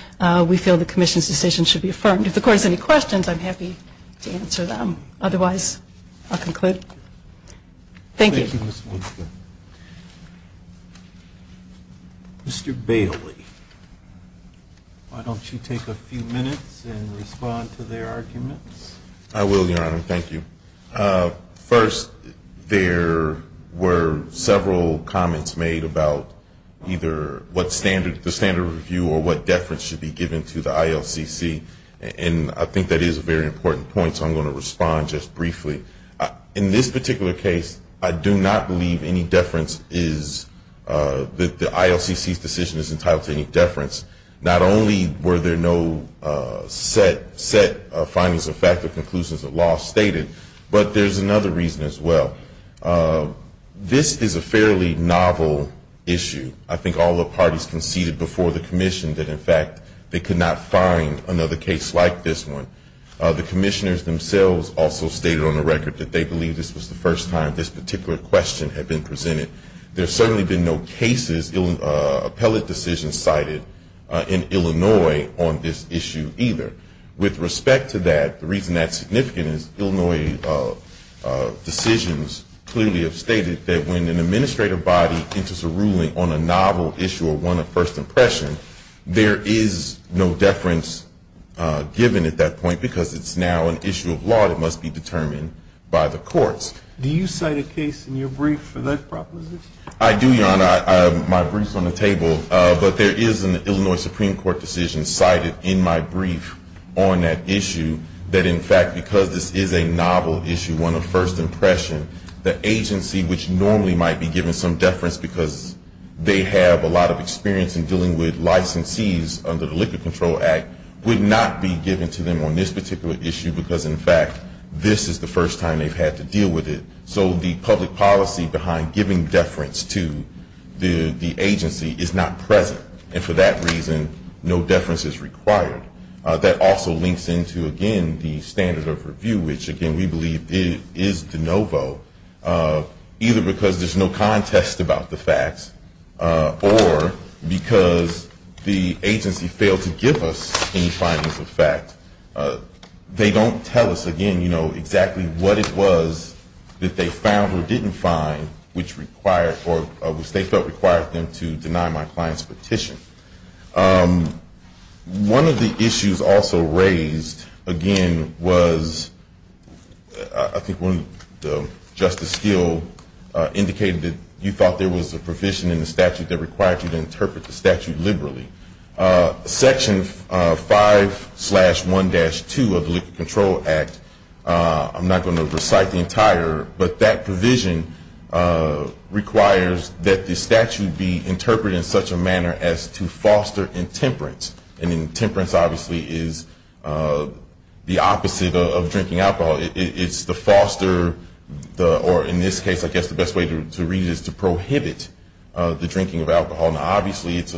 we feel the commission's decision should be affirmed. If the court has any questions, I'm happy to answer them. Otherwise, I'll conclude. Thank you. Mr. Bailey, why don't you take a few minutes and respond to their arguments? I will, Your Honor. Thank you. First, there were several comments made about either the standard review or what deference should be given to the ILCC. And I think that is a very important point, so I'm going to respond just briefly. In this particular case, I do not believe any deference is that the ILCC's decision is entitled to any deference. Not only were there no set findings of fact or conclusions of law stated, but there's another reason as well. This is a fairly novel issue. I think all the parties conceded before the commission that, in fact, they could not find another case like this one. The commissioners themselves also stated on the record that they believe this was the first time this particular question had been presented. There have certainly been no cases, appellate decisions cited in Illinois on this issue either. With respect to that, the reason that's significant is Illinois decisions clearly have stated that when an administrative body enters a ruling on a novel issue or one of first impression, there is no deference given at that point because it's now an issue of law that must be determined by the courts. Do you cite a case in your brief for that proposition? I do, Your Honor. My brief's on the table. But there is an Illinois Supreme Court decision cited in my brief on that issue that, in fact, because this is a novel issue, one of first impression, the agency which normally might be given some deference because they have a lot of experience in dealing with licensees under the Liquor Control Act would not be given to them on this particular issue because, in fact, this is the first time they've had to deal with it. So the public policy behind giving deference to the agency is not present. And for that reason, no deference is required. That also links into, again, the standards of review, which, again, we believe is de novo, either because there's no contest about the facts or because the agency failed to give us any findings of fact. They don't tell us, again, you know, exactly what it was that they found or didn't find, which they felt required them to deny my client's petition. One of the issues also raised, again, was I think when Justice Steele indicated that you thought there was a provision in the statute that required you to interpret the statute liberally. Section 5-1-2 of the Liquor Control Act, I'm not going to recite the entire, but that provision requires that the statute be interpreted in such a manner as to foster intemperance. And intemperance, obviously, is the opposite of drinking alcohol. It's to foster or, in this case, I guess the best way to read it is to prohibit the drinking of alcohol. Now, obviously, it's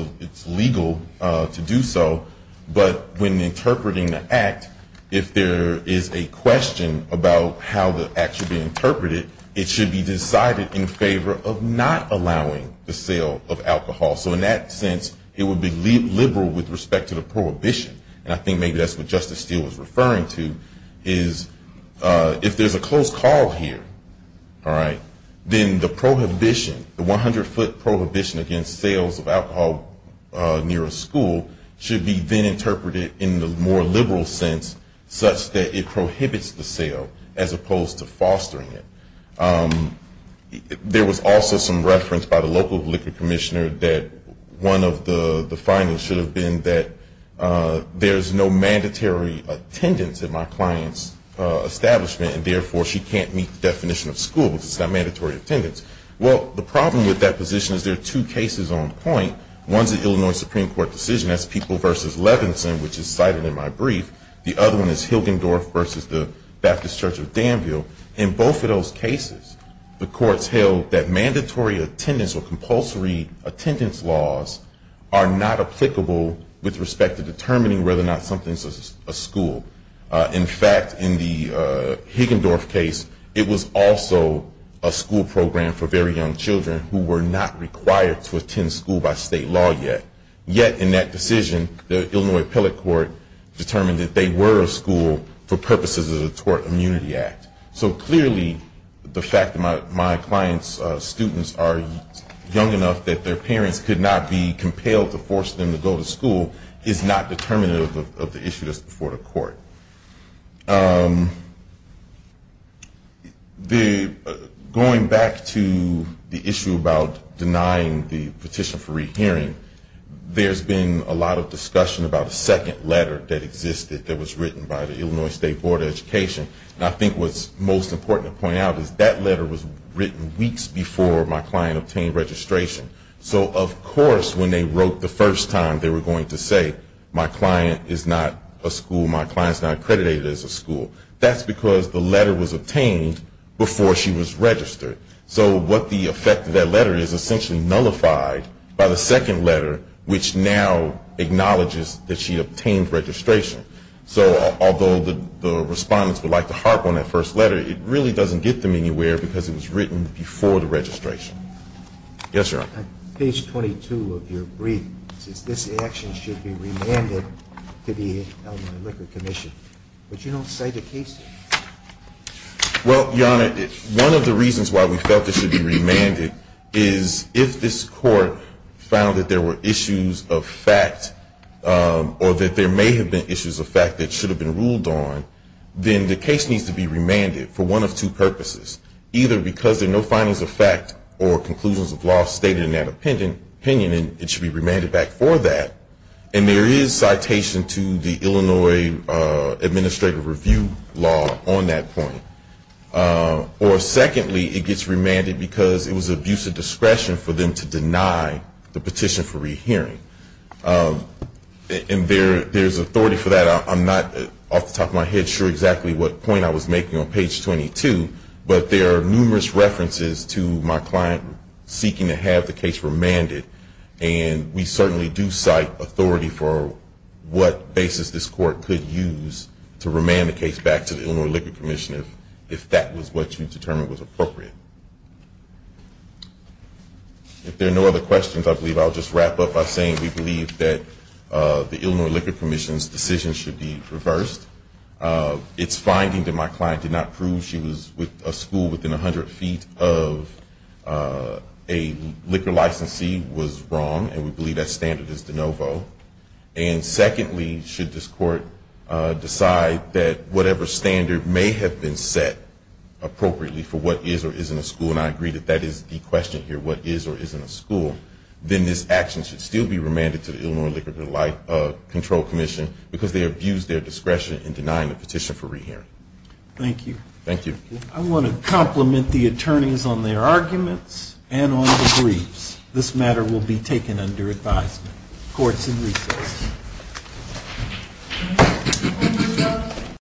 legal to do so, but when interpreting the act, if there is a question about how the act should be interpreted, it should be decided in favor of not allowing the sale of alcohol. So in that sense, it would be liberal with respect to the prohibition. And I think maybe that's what Justice Steele was referring to, is if there's a close call here, all right, then the prohibition, the 100-foot prohibition against sales of alcohol near a school should be then interpreted in the more liberal sense such that it prohibits the sale as opposed to fostering it. There was also some reference by the local liquor commissioner that one of the findings should have been that there's no mandatory attendance at my client's establishment, and therefore, she can't meet the definition of school because it's not mandatory attendance. Well, the problem with that position is there are two cases on point. One's an Illinois Supreme Court decision. That's People v. Levinson, which is cited in my brief. The other one is Hilgendorf v. The Baptist Church of Danville. In both of those cases, the courts held that mandatory attendance or compulsory attendance laws are not applicable with respect to a school. In fact, in the Hilgendorf case, it was also a school program for very young children who were not required to attend school by state law yet. Yet, in that decision, the Illinois appellate court determined that they were a school for purposes of the Tort Immunity Act. So clearly, the fact that my client's students are young enough that their parents could not be compelled to force them to go to school is not determinative of the issue that's before the court. Going back to the issue about denying the petition for rehearing, there's been a lot of discussion about a second letter that existed that was written by the Illinois State Board of Education. And I think what's most important to point out is that letter was written weeks before my client obtained registration. So, of course, when they wrote the first time, they were going to say, my client is not a school, my client is not accredited as a school. That's because the letter was obtained before she was registered. So what the effect of that letter is essentially nullified by the second letter, which now acknowledges that she obtained registration. So although the respondents would like to harp on that first letter, it really doesn't get them anywhere because it was written before the registration. Yes, Your Honor. Page 22 of your brief says this action should be remanded to the Illinois Liquor Commission. But you don't cite a case here. Well, Your Honor, one of the reasons why we felt it should be remanded is if this court found that there were issues of fact or that there may have been issues of fact that should have been ruled on, then the case needs to be remanded for one of two purposes. Either because there are no findings of fact or conclusions of law stated in that opinion and it should be remanded back for that. And there is citation to the Illinois Administrative Review Law on that point. Or secondly, it gets remanded because it was abuse of discretion for them to deny the petition for rehearing. And there is authority for that. I'm not off the top of my head sure exactly what point I was making on page 22, but there are numerous references to my client seeking to have the case remanded. And we certainly do cite authority for what basis this court could use to remand the case back to the Illinois Liquor Commission if that was what you determined was appropriate. If there are no other questions, I believe I'll just wrap up by saying we believe that the Illinois Liquor Commission's decision should be reversed. Its finding that my client did not prove she was with a school within 100 feet of a liquor licensee was wrong. And we believe that standard is de novo. And secondly, should this court decide that whatever standard may have been set appropriately for what is or isn't a school, and I agree that that is the question here, what is or isn't a school, then this action should still be remanded to the Illinois Liquor Control Commission because they abused their discretion in denying the petition for rehearing. Thank you. Thank you. I want to compliment the attorneys on their arguments and on the briefs. This matter will be taken under advisement. Court is in recess.